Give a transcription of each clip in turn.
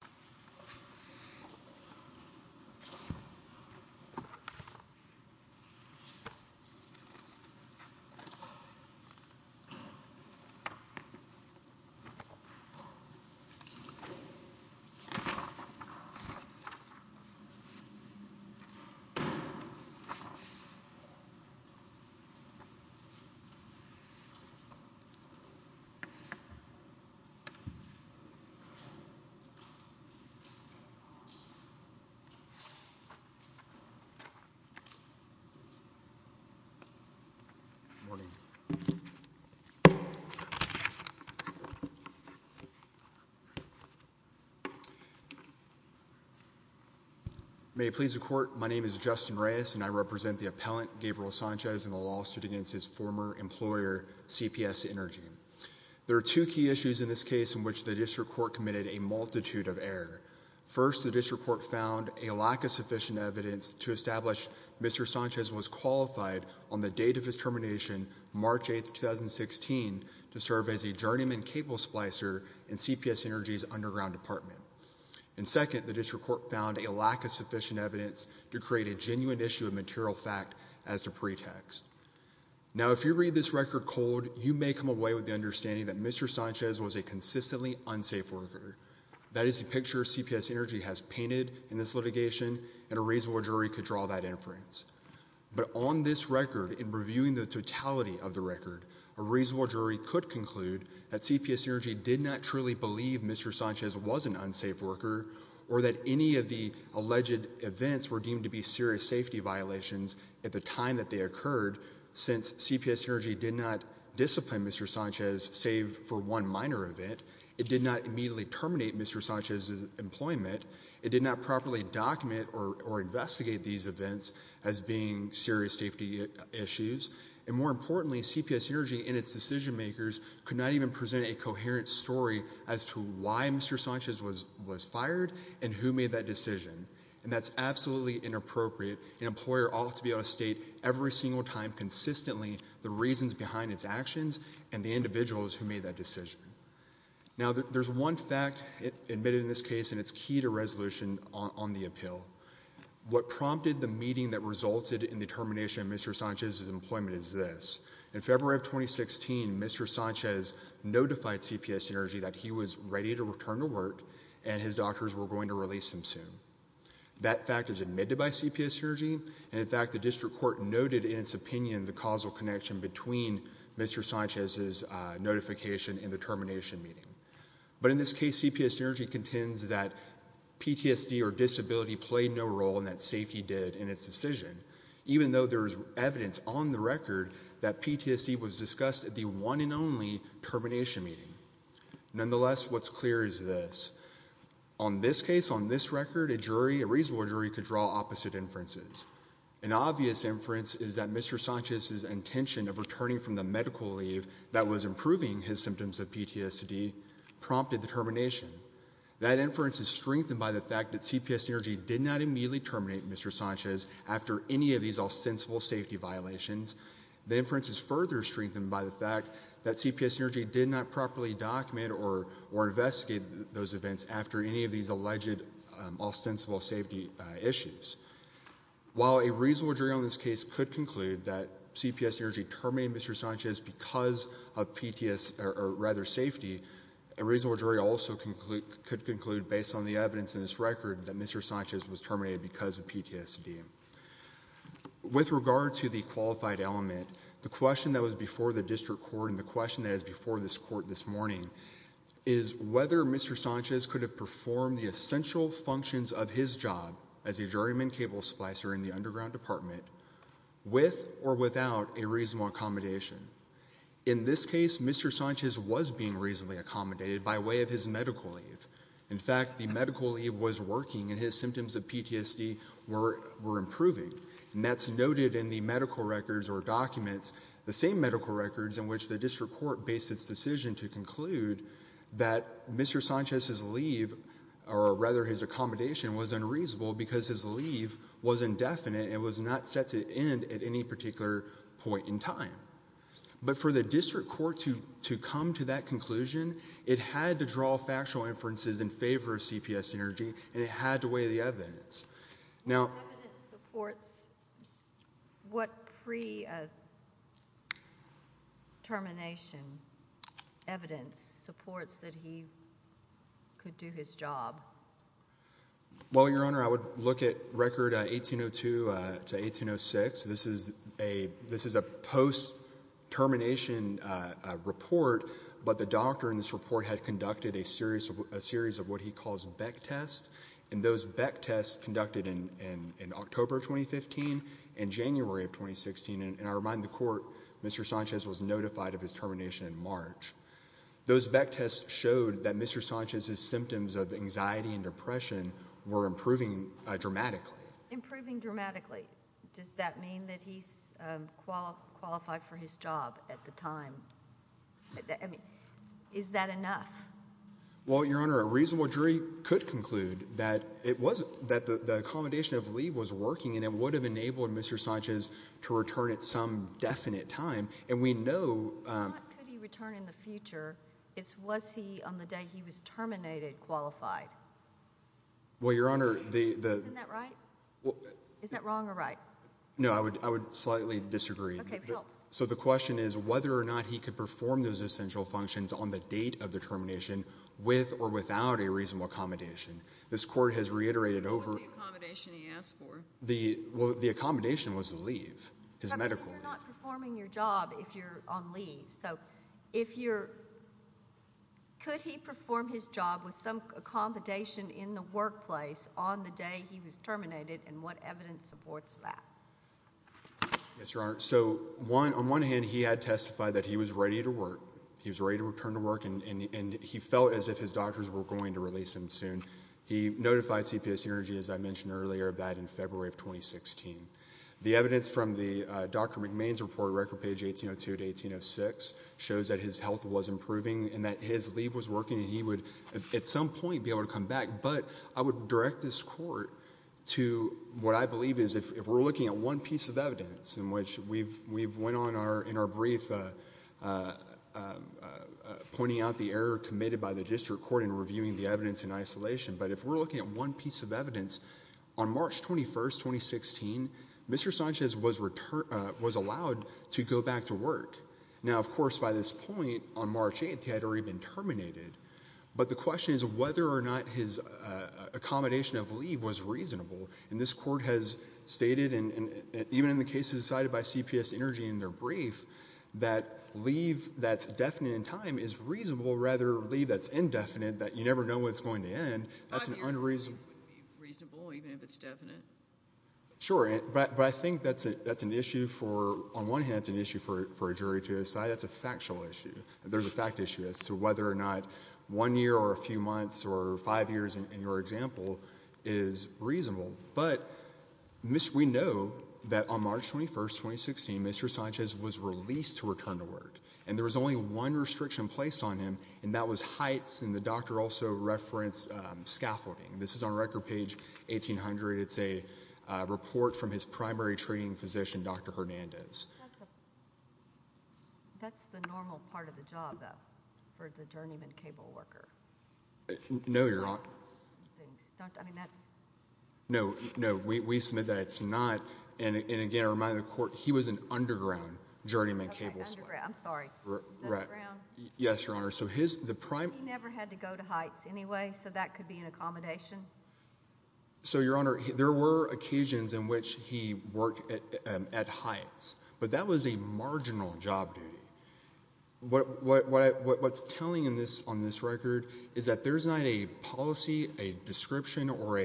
Sanchez v. City of San Antonio May it please the court, my name is Justin Reyes and I represent the appellant Gabriel Sanchez in the lawsuit against his former employer, CPS Energy. There are two key issues in this case in which the district court committed a multitude of errors. First, the district court found a lack of sufficient evidence to establish Mr. Sanchez was qualified on the date of his termination, March 8, 2016, to serve as a journeyman cable splicer in CPS Energy's underground department. And second, the district court found a lack of sufficient evidence to create a genuine issue of material fact as the pretext. Now if you read this record cold, you may come away with the understanding that Mr. painted in this litigation and a reasonable jury could draw that inference. But on this record, in reviewing the totality of the record, a reasonable jury could conclude that CPS Energy did not truly believe Mr. Sanchez was an unsafe worker or that any of the alleged events were deemed to be serious safety violations at the time that they occurred since CPS Energy did not discipline Mr. Sanchez save for one minor event. It did not immediately terminate Mr. Sanchez's employment. It did not properly document or investigate these events as being serious safety issues. And more importantly, CPS Energy and its decision makers could not even present a coherent story as to why Mr. Sanchez was fired and who made that decision. And that's absolutely inappropriate. An employer ought to be able to state every single time consistently the reasons behind its actions and the individuals who made that decision. Now there's one fact admitted in this case and it's key to resolution on the appeal. What prompted the meeting that resulted in the termination of Mr. Sanchez's employment is this. In February of 2016, Mr. Sanchez notified CPS Energy that he was ready to return to work and his doctors were going to release him soon. That fact is admitted by CPS Energy and in fact the district court noted in its opinion the causal connection between Mr. Sanchez and the termination meeting. But in this case, CPS Energy contends that PTSD or disability played no role and that safety did in its decision. Even though there's evidence on the record that PTSD was discussed at the one and only termination meeting. Nonetheless, what's clear is this. On this case, on this record, a jury, a reasonable jury, could draw opposite inferences. An obvious inference is that Mr. Sanchez's intention of returning from the medical leave that was improving his symptoms of PTSD prompted the termination. That inference is strengthened by the fact that CPS Energy did not immediately terminate Mr. Sanchez after any of these ostensible safety violations. The inference is further strengthened by the fact that CPS Energy did not properly document or investigate those events after any of these alleged ostensible safety issues. While a reasonable jury on Mr. Sanchez because of PTSD, or rather safety, a reasonable jury also could conclude based on the evidence in this record that Mr. Sanchez was terminated because of PTSD. With regard to the qualified element, the question that was before the district court and the question that is before this court this morning is whether Mr. Sanchez could have performed the essential functions of his job as a juryman capable of splicer in the underground department with or without a reasonable accommodation. In this case, Mr. Sanchez was being reasonably accommodated by way of his medical leave. In fact, the medical leave was working and his symptoms of PTSD were improving. And that's noted in the medical records or documents, the same medical records in which the district court based its decision to conclude that Mr. Sanchez's leave, or rather his accommodation, was unreasonable because his leave was indefinite and was not set to end at any particular point in time. But for the district court to come to that conclusion, it had to draw factual inferences in favor of CPS energy and it had to weigh the evidence. What evidence supports what pre-termination evidence supports that he could do his job? Well, Your Honor, I would look at record 1802 to 1806. This is a post-termination report, but the doctor in this report had conducted a series of what he calls Beck tests. And those Beck tests conducted in October of 2015 and January of 2016, and I remind the court, Mr. Sanchez was notified of his termination in March. Those Beck tests showed that Mr. Sanchez's anxiety and depression were improving dramatically. Improving dramatically. Does that mean that he's qualified for his job at the time? Is that enough? Well, Your Honor, a reasonable jury could conclude that the accommodation of leave was working and it would have enabled Mr. Sanchez to return at some definite time. And we know that he could return in the future. It's was he, on the day he was terminated, qualified? Well Your Honor, the... Isn't that right? Is that wrong or right? No, I would slightly disagree. So the question is whether or not he could perform those essential functions on the date of the termination with or without a reasonable accommodation. This court has reiterated over... What was the accommodation he asked for? The accommodation was a leave, his medical leave. You're not performing your job if you're on leave. So, if you're... Could he perform his job with some accommodation in the workplace on the day he was terminated and what evidence supports that? Yes, Your Honor. So, on one hand, he had testified that he was ready to work. He was ready to return to work and he felt as if his doctors were going to release him soon. He notified CPSU Energy, as I mentioned earlier, of that in February of 2016. The evidence from the Dr. McMahon's report, Record Page 1802-1806, shows that his health was improving and that his leave was working and he would, at some point, be able to come back. But I would direct this court to what I believe is, if we're looking at one piece of evidence, in which we've went on in our brief pointing out the error committed by the district court in reviewing the evidence in isolation. But if we're looking at one piece of evidence, on March 21st, 2016, Mr. Sanchez was allowed to go back to work. Now, of course, by this point, on March 8th, he had already been terminated. But the question is whether or not his accommodation of leave was reasonable. And this court has stated, and even in the cases cited by CPSU Energy in their brief, that leave that's definite in time is reasonable, rather than leave that's indefinite, that you never know when it's going to end, that's an unreasonable... Sure, but I think that's an issue for, on one hand, it's an issue for a jury to decide, that's a factual issue. There's a fact issue as to whether or not one year or a few months or five years in your example is reasonable. But, we know that on March 21st, 2016, Mr. Sanchez was released to return to work. And there was only one restriction placed on him, and that was heights, and the doctor also referenced scaffolding. This is on Record Page 1800, it's a report from his primary treating physician, Dr. Hernandez. That's the normal part of the job, though, for the journeyman cable worker. No, Your Honor. I mean, that's... No, no, we submit that it's not, and again, I remind the court, he was an underground journeyman cable sweep. Okay, underground, I'm sorry. Is that underground? Yes, Your Honor, so his, the primary... Okay, so that could be an accommodation? So, Your Honor, there were occasions in which he worked at heights, but that was a marginal job duty. What's telling on this record is that there's not a policy, a description, or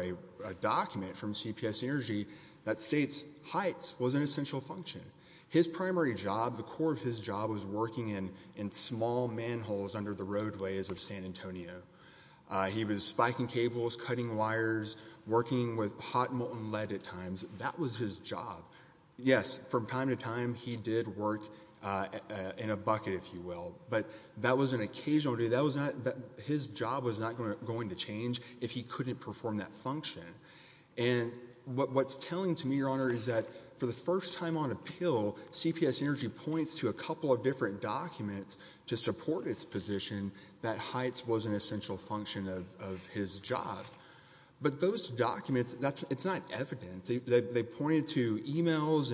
a document from CPS Energy that states heights was an essential function. His primary job, the core of his job was working in small manholes under the roadways of San Antonio. He was spiking cables, cutting wires, working with hot molten lead at times. That was his job. Yes, from time to time, he did work in a bucket, if you will, but that was an occasional duty. That was not, his job was not going to change if he couldn't perform that function. And what's telling to me, Your Honor, is that for the first time on appeal, CPS Energy points to a couple of different documents to support its position that heights was an essential function of his job. But those documents, that's, it's not evident. They pointed to emails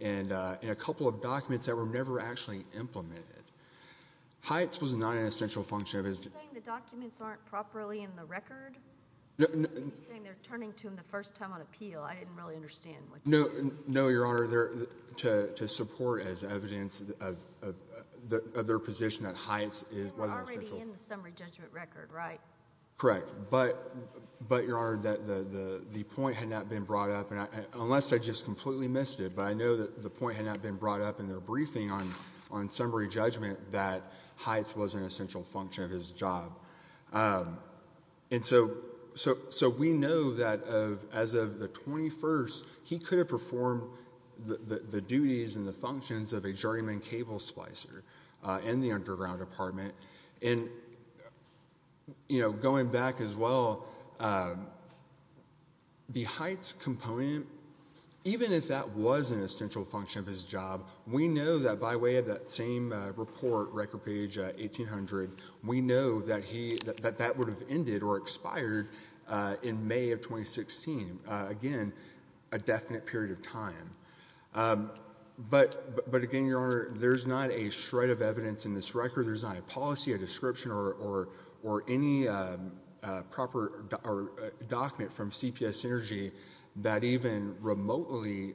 and a couple of documents that were never actually implemented. Heights was not an essential function of his... Are you saying the documents aren't properly in the record? No, no. You're saying they're turning to him the first time on appeal. I didn't really understand what you're saying. No, no, Your Honor. They're to support as evidence of their position that heights was an essential... They were already in the summary judgment record, right? Correct. But, but Your Honor, the point had not been brought up, unless I just completely missed it, but I know that the point had not been brought up in their briefing on summary judgment that heights was an essential function of his job. And so, so, so we know that as of the 21st, he could have performed the duties and the functions of a journeyman cable splicer in the underground apartment. And, you know, going back as well, the heights component, even if that was an essential function of his job, we know that by way of that same report, record page 1800, we know that he, that that would have ended or expired in May of 2016. Again, a definite period of time. But, but again, Your Honor, there's not a shred of evidence in this record. There's not a policy, a description, or, or, or any proper document from CPS Energy that even remotely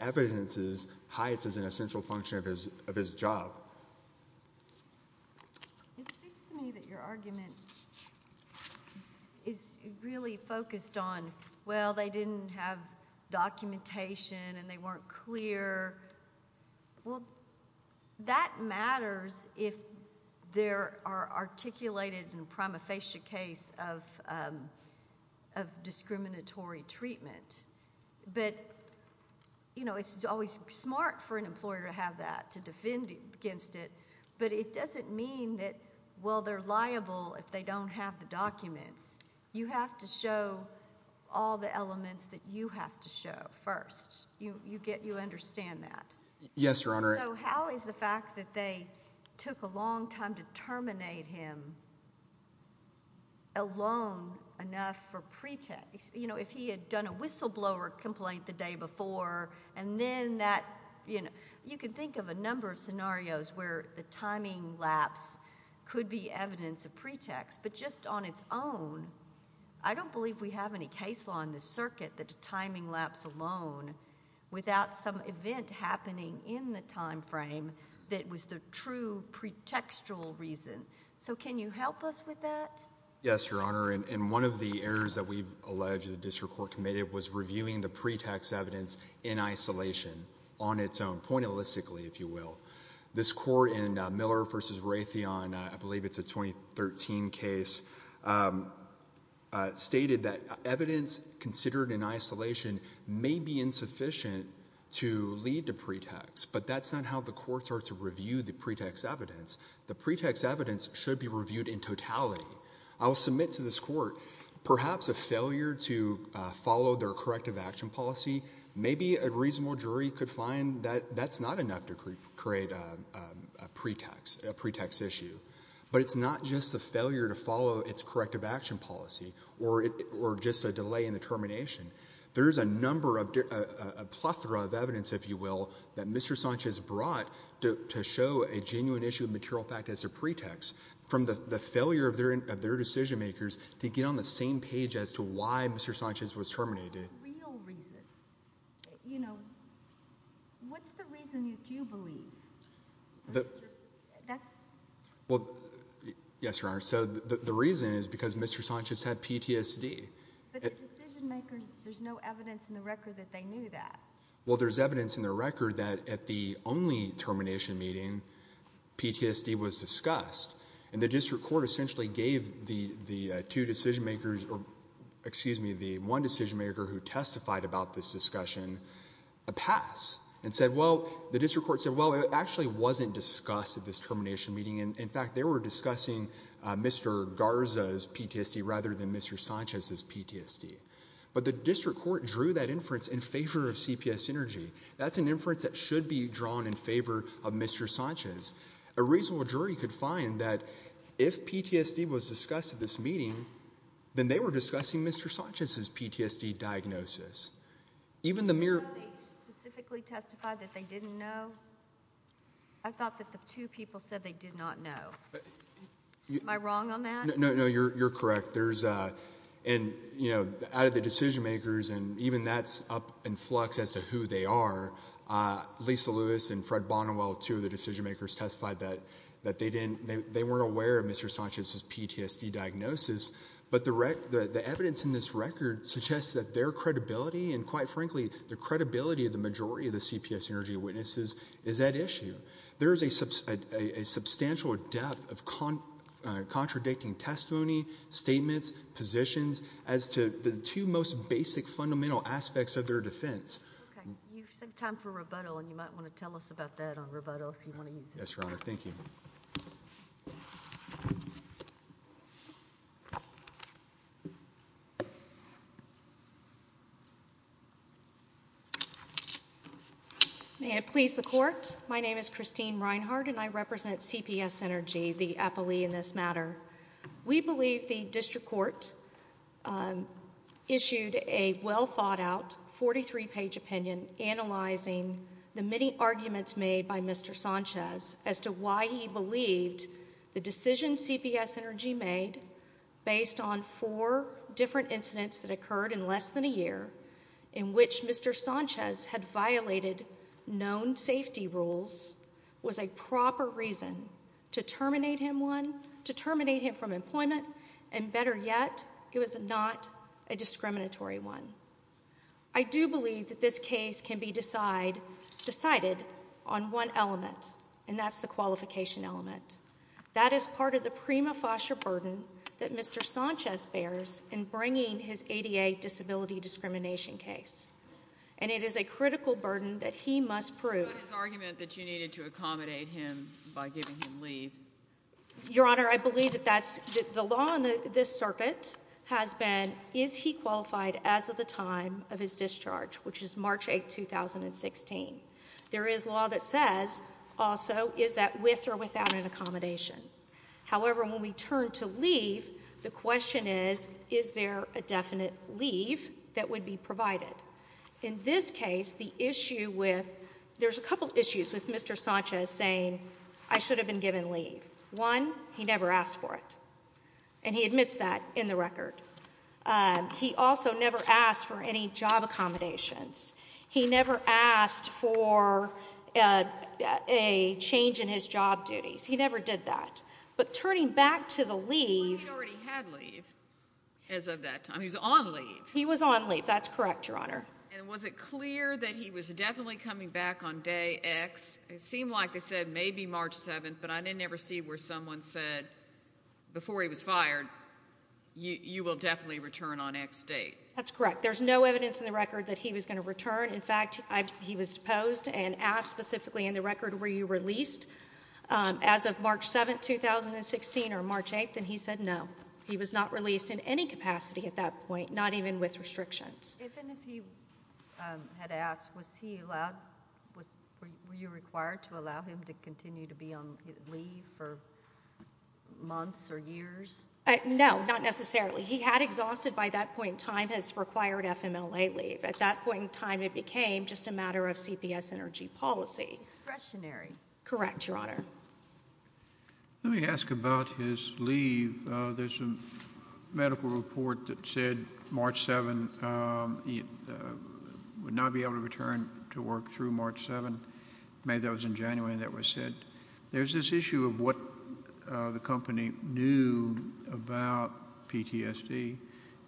evidences heights as an essential function of his, of his job. It seems to me that your argument is really focused on, well, they didn't have documentation, and they weren't clear. Well, that matters if there are articulated and prima facie case of, of discriminatory treatment. But, you know, it's always smart for an employer to have that, to defend against it. But it doesn't mean that, well, they're liable if they don't have the documents. You have to show all the elements that you have to show first. You, you get, you understand that. Yes, Your Honor. So how is the fact that they took a long time to terminate him alone enough for pretext? You know, if he had done a whistleblower complaint the day before, and then that, you know, you can think of a number of scenarios where the timing lapse could be evidence of pretext. But just on its own, I don't believe we have any case law in this circuit that the timing lapse alone without some event happening in the time frame that was the true pretextual reason. So can you help us with that? Yes, Your Honor. And, and one of the things that the court alleged the district court committed was reviewing the pretext evidence in isolation, on its own, pointillistically, if you will. This court in Miller v. Raytheon, I believe it's a 2013 case, stated that evidence considered in isolation may be insufficient to lead to pretext. But that's not how the courts are to review the pretext evidence. The pretext evidence should be reviewed in totality. I will submit to this court, perhaps a failure to follow their corrective action policy, maybe a reasonable jury could find that that's not enough to create a pretext, a pretext issue. But it's not just the failure to follow its corrective action policy or just a delay in the termination. There is a number of, a plethora of evidence, if you will, that Mr. Sanchez brought to show a genuine issue of material fact as a pretext from the failure of their decision makers to get on the same page as to why Mr. Sanchez was terminated. It's a real reason. You know, what's the reason that you believe? Well, yes, Your Honor. So the reason is because Mr. Sanchez had PTSD. But the decision makers, there's no evidence in the record that they knew that. Well, there's evidence in the record that at the only termination meeting, PTSD was discussed. And the district court essentially gave the two decision makers, or excuse me, the one decision maker who testified about this discussion a pass and said, well, the district court said, well, it actually wasn't discussed at this termination meeting. In fact, they were discussing Mr. Garza's PTSD rather than Mr. Sanchez's PTSD. But the district court drew that inference in favor of CPS Energy. That's an inference that should be drawn in favor of Mr. Sanchez. A reasonable jury could find that if PTSD was discussed at this meeting, then they were discussing Mr. Sanchez's PTSD diagnosis. Even the mere... Did they specifically testify that they didn't know? I thought that the two people said they did not know. Am I wrong on that? No, no, you're correct. There's, and, you know, out of the decision makers and even that's up in flux as to who they are, Lisa Lewis and Fred Bonnewell, two of the decision makers, testified that they weren't aware of Mr. Sanchez's PTSD diagnosis. But the evidence in this record suggests that their credibility, and quite frankly, the credibility of the majority of the CPS Energy witnesses is at issue. There is a substantial depth of contradicting testimony, statements, positions, as to the two most basic fundamental aspects of their defense. Okay, you said time for rebuttal, and you might want to tell us about that on rebuttal if you want to use it. Yes, Your Honor, thank you. May it please the Court, my name is Christine Reinhardt and I represent CPS Energy, the appellee in this matter. We believe the District Court issued a well-thought-out, 43-page opinion analyzing the many arguments made by Mr. Sanchez as to why he believed the decision CPS Energy made, based on four different incidents that occurred in less than a year, in which Mr. Sanchez had violated known safety rules, was a proper reason to terminate him one, to terminate him from employment, and better yet, it was not a discriminatory one. I do believe that this case can be decided on one element, and that's the qualification element. That is part of the prima facie burden that Mr. Sanchez bears in bringing his ADA disability discrimination case, and it is a critical burden that he must prove. What about his argument that you needed to accommodate him by giving him leave? Your Honor, I believe that the law on this circuit has been, is he qualified as of the time of his discharge, which is March 8, 2016. There is law that says, also, is that with or without an accommodation. However, when we turn to leave, the question is, is there a definite leave that would be provided? In this case, the issue with, there's a couple issues with Mr. Sanchez saying, I should have been given leave. One, he never asked for it, and he admits that in the record. He also never asked for any job accommodations. He never asked for a change in his job duties. He never did that, but turning back to the leave. He already had leave as of that time. He was on leave. He was on leave. That's correct, Your Honor. And was it clear that he was definitely coming back on day X? It seemed like they said maybe March 7, but I didn't ever see where someone said before he was fired, you will definitely return on X date. That's correct. There's no evidence in the record that he was going to return. In fact, he was deposed and asked specifically in the record, were you released as of March 7, 2016 or March 8? And he said no. He was not released in any capacity at that point, not even with restrictions. Even if he had asked, was he allowed, were you required to allow him to continue to be on leave for months or years? No, not necessarily. He had exhausted by that point in time his required FMLA leave. At that point in time, it became just a matter of CPS energy policy. Discretionary. Correct, Your Honor. Let me ask about his leave. There's a medical report that said March 7, he would not be able to return to work through March 7. May, that was in January, that was said. There's this issue of what the company knew about PTSD.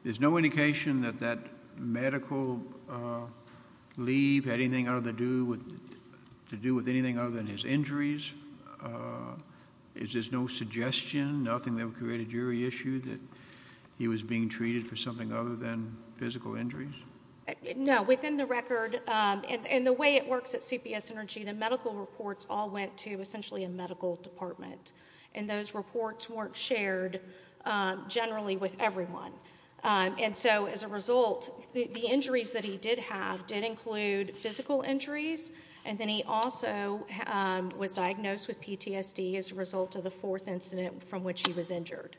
There's no indication that that medical leave had anything to do with anything other than his injuries. Is there no suggestion, nothing that would create a jury issue that he was being treated for something other than physical injuries? No, within the record, and the way it works at CPS energy, the medical reports all went to essentially a medical department. Those reports weren't shared generally with everyone. As a result, the injuries that he did have did include physical injuries, and then he also was diagnosed with PTSD as a result of the fourth incident from which he was injured.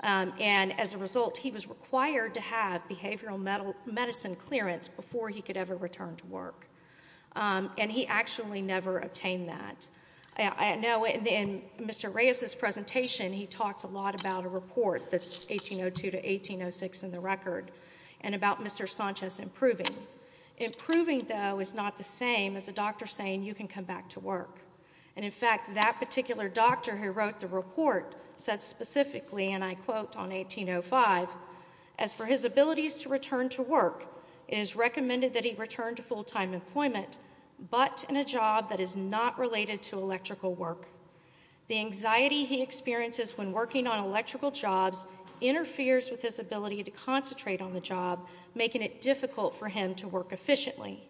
As a result, he was required to have behavioral medicine clearance before he could ever return to work. He actually never obtained that. Now, in Mr. Reyes's presentation, he talked a lot about a report that's 1802 to 1806 in the record, and about Mr. Sanchez improving. Improving, though, is not the same as a doctor saying you can come back to work. And, in fact, that particular doctor who wrote the report said specifically, and I quote on 1805, as for his abilities to return to work, it is recommended that he return to full-time employment, but in a job that is not related to electrical work. The anxiety he experiences when working on electrical jobs interferes with his ability to concentrate on the job, making it difficult for him to work efficiently.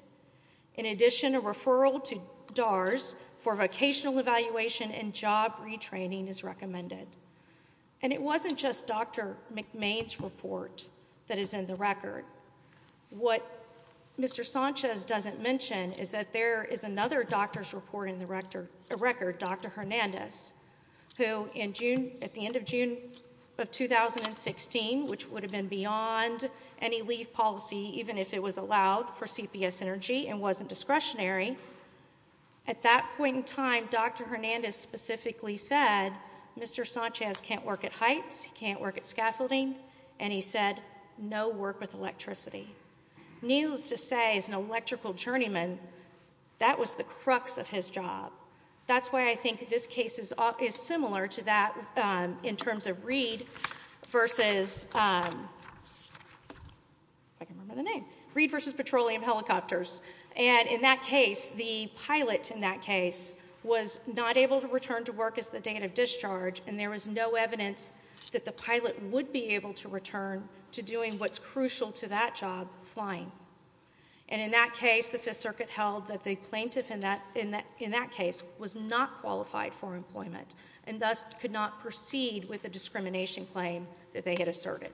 In addition, a referral to DARS for vocational evaluation and job retraining is recommended. And it wasn't just Dr. McMahon's report that is in the record. What Mr. Sanchez doesn't mention is that there is another doctor's report in the record, Dr. Hernandez, who at the end of June of 2016, which would have been beyond any leave policy, even if it was allowed for CPS Energy and wasn't discretionary, at that point in time, Dr. Hernandez specifically said Mr. Sanchez can't work at heights, he can't work at scaffolding, and he said no work with electricity. Needless to say, as an electrical journeyman, that was the crux of his job. That's why I think this case is similar to that in terms of Reed versus Petroleum Helicopters. And in that case, the pilot in that case was not able to return to work as the date of discharge, and there was no evidence that the pilot would be able to return to doing what's crucial to that job, flying. And in that case, the Fifth Circuit held that the plaintiff in that case was not qualified for employment and thus could not proceed with the discrimination claim that they had asserted.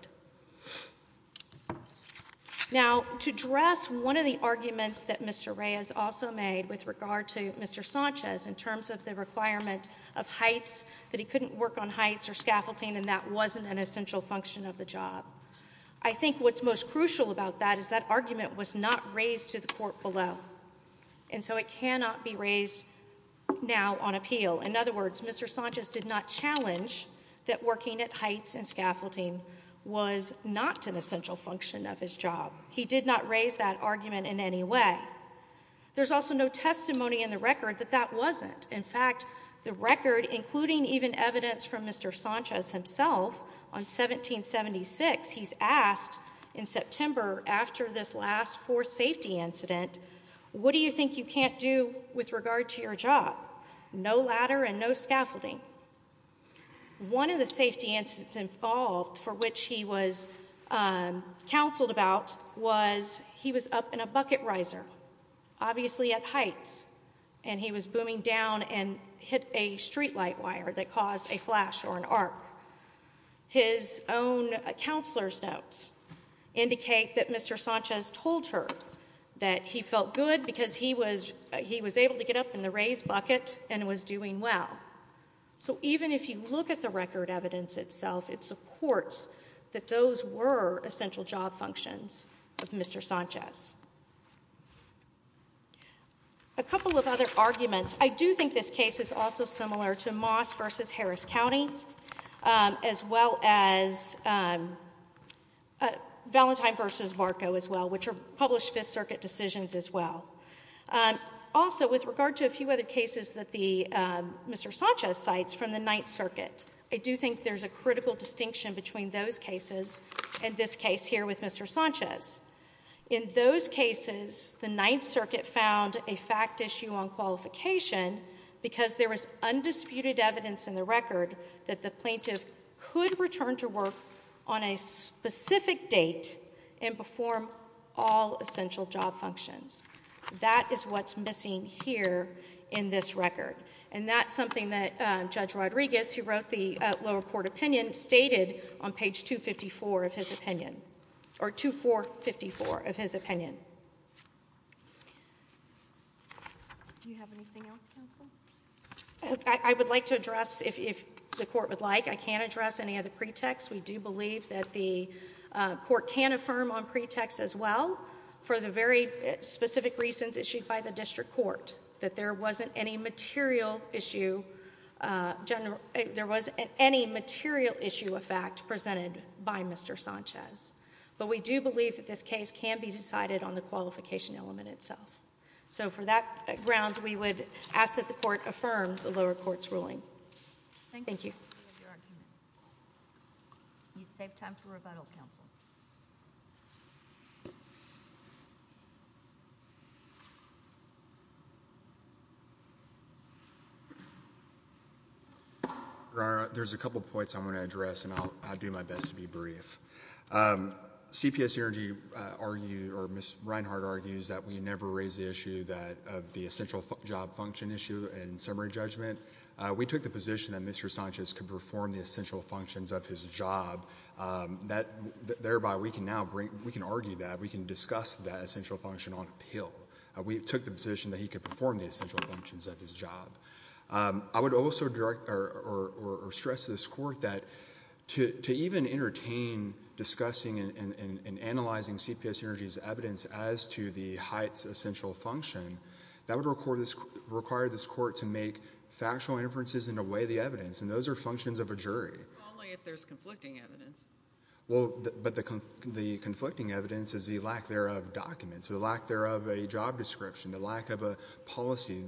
Now, to address one of the arguments that Mr. Reyes also made with regard to Mr. Sanchez in terms of the requirement of heights, that he couldn't work on heights or scaffolding, and that wasn't an essential function of the job, I think what's most crucial about that is that argument was not raised to the court below, and so it cannot be raised now on appeal. In other words, Mr. Sanchez did not challenge that working at heights and scaffolding was not an essential function of his job. He did not raise that argument in any way. There's also no testimony in the record that that wasn't. In fact, the record, including even evidence from Mr. Sanchez himself, on 1776, he's asked in September after this last for safety incident, what do you think you can't do with regard to your job? No ladder and no scaffolding. One of the safety incidents involved for which he was counseled about was he was up in a bucket riser, obviously at heights, and he was booming down and hit a streetlight wire that caused a flash or an arc. His own counselor's notes indicate that Mr. Sanchez told her that he felt good because he was able to get up in the raised bucket and was doing well. So even if you look at the record evidence itself, it supports that those were essential job functions of Mr. Sanchez. A couple of other arguments. I do think this case is also similar to Moss v. Harris County as well as Valentine v. Varco as well, which are published Fifth Circuit decisions as well. Also, with regard to a few other cases that Mr. Sanchez cites from the Ninth Circuit, I do think there's a critical distinction between those cases and this case here with Mr. Sanchez. In those cases, the Ninth Circuit found a fact issue on qualification because there was undisputed evidence in the record that the plaintiff could return to work on a specific date and perform all essential job functions. That is what's missing here in this record, and that's something that Judge Rodriguez, who wrote the lower court opinion, stated on page 254 of his opinion, or 2454 of his opinion. Do you have anything else, counsel? I would like to address, if the court would like, I can't address any of the pretexts. We do believe that the court can affirm on pretexts as well for the very specific reasons issued by the district court, that there wasn't any material issue of fact presented by Mr. Sanchez. But we do believe that this case can be decided on the qualification element itself. So for that grounds, we would ask that the court affirm the lower court's ruling. Thank you. You've saved time for rebuttal, counsel. Your Honor, there's a couple points I want to address, and I'll do my best to be brief. CPS Energy argued, or Ms. Reinhart argues, that we never raised the issue of the essential job function issue in summary judgment. We took the position that Mr. Sanchez could perform the essential functions of his job, thereby we can now argue that, we can discuss that essential function on appeal. We took the position that he could perform the essential functions of his job. I would also direct or stress to this court that to even entertain discussing and analyzing CPS Energy's evidence as to the height's essential function, that would require this court to make factual inferences in a way of the evidence, and those are functions of a jury. Only if there's conflicting evidence. Well, but the conflicting evidence is the lack thereof of documents, the lack thereof of a job description, the lack of a policy.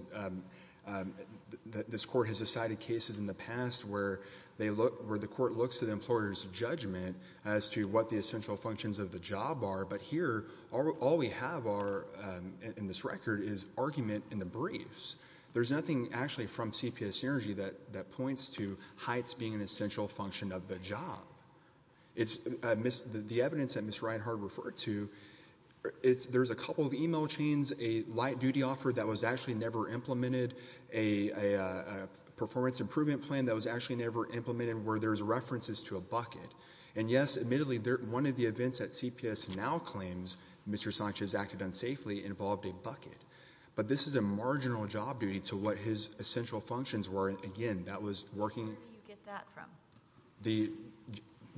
This court has decided cases in the past where the court looks to the employer's judgment as to what the essential functions of the job are, but here all we have in this record is argument in the briefs. There's nothing actually from CPS Energy that points to heights being an essential function of the job. The evidence that Ms. Reinhart referred to, there's a couple of email chains, a light duty offer that was actually never implemented, a performance improvement plan that was actually never implemented where there's references to a bucket, and yes, admittedly, one of the events that CPS now claims Mr. Sanchez acted unsafely involved a bucket, but this is a marginal job duty to what his essential functions were. Again, that was working. Where do you get that from?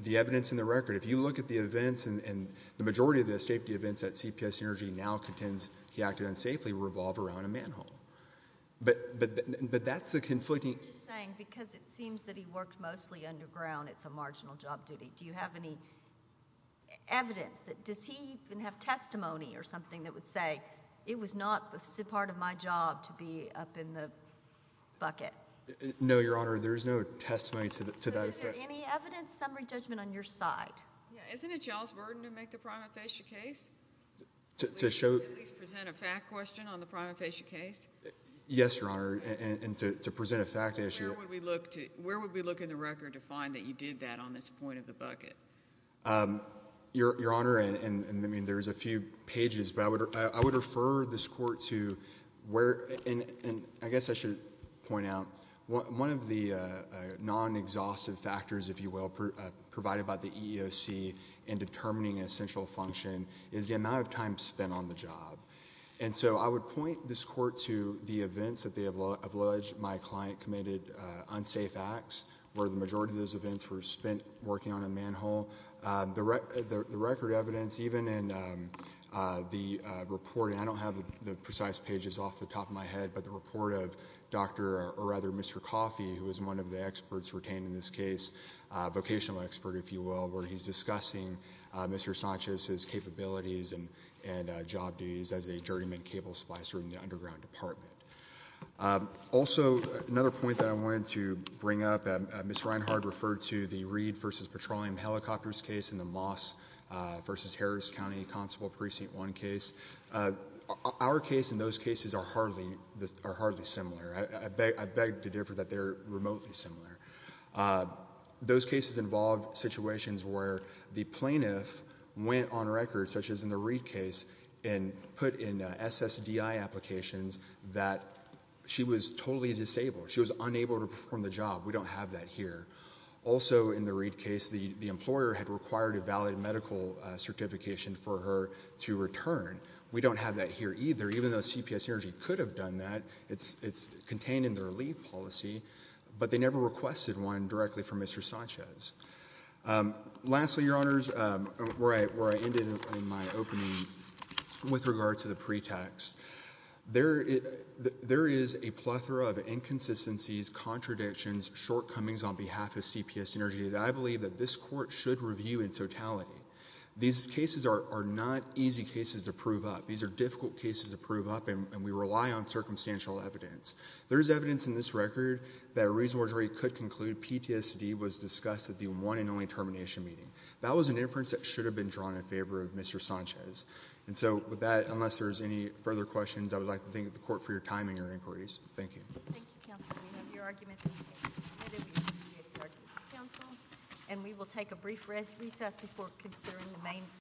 The evidence in the record. If you look at the events and the majority of the safety events that CPS Energy now contends he acted unsafely revolve around a manhole, but that's the conflicting. I'm just saying because it seems that he worked mostly underground, it's a marginal job duty. Do you have any evidence? Does he even have testimony or something that would say it was not part of my job to be up in the bucket? No, Your Honor. There is no testimony to that effect. So is there any evidence summary judgment on your side? Isn't it y'all's burden to make the prima facie case? To show. At least present a fact question on the prima facie case. Yes, Your Honor, and to present a fact issue. Where would we look in the record to find that you did that on this point of the bucket? Your Honor, and there's a few pages, but I would refer this court to where, and I guess I should point out one of the non-exhaustive factors, if you will, provided by the EEOC in determining an essential function is the amount of time spent on the job. And so I would point this court to the events that they have alleged my client committed unsafe acts, where the majority of those events were spent working on a manhole. The record evidence, even in the report, and I don't have the precise pages off the top of my head, but the report of Dr. or rather Mr. Coffey, who is one of the experts retained in this case, vocational expert, if you will, where he's discussing Mr. Sanchez's capabilities and job duties as a journeyman cable splicer in the underground department. Also, another point that I wanted to bring up, Ms. Reinhart referred to the Reed v. Petroleum Helicopters case and the Moss v. Harris County Constable Precinct 1 case. Our case and those cases are hardly similar. I beg to differ that they're remotely similar. Those cases involve situations where the plaintiff went on record, such as in the Reed case, and put in SSDI applications that she was totally disabled. She was unable to perform the job. We don't have that here. Also, in the Reed case, the employer had required a valid medical certification for her to return. We don't have that here either. Even though CPS Energy could have done that, it's contained in their leave policy, but they never requested one directly from Mr. Sanchez. Lastly, Your Honors, where I ended in my opening with regard to the pretext, there is a plethora of inconsistencies, contradictions, shortcomings on behalf of CPS Energy that I believe that this Court should review in totality. These cases are not easy cases to prove up. These are difficult cases to prove up, and we rely on circumstantial evidence. There is evidence in this record that a reasonable jury could conclude PTSD was discussed at the one and only termination meeting. That was an inference that should have been drawn in favor of Mr. Sanchez. With that, unless there are any further questions, I would like to thank the Court for your time and your inquiries. Thank you.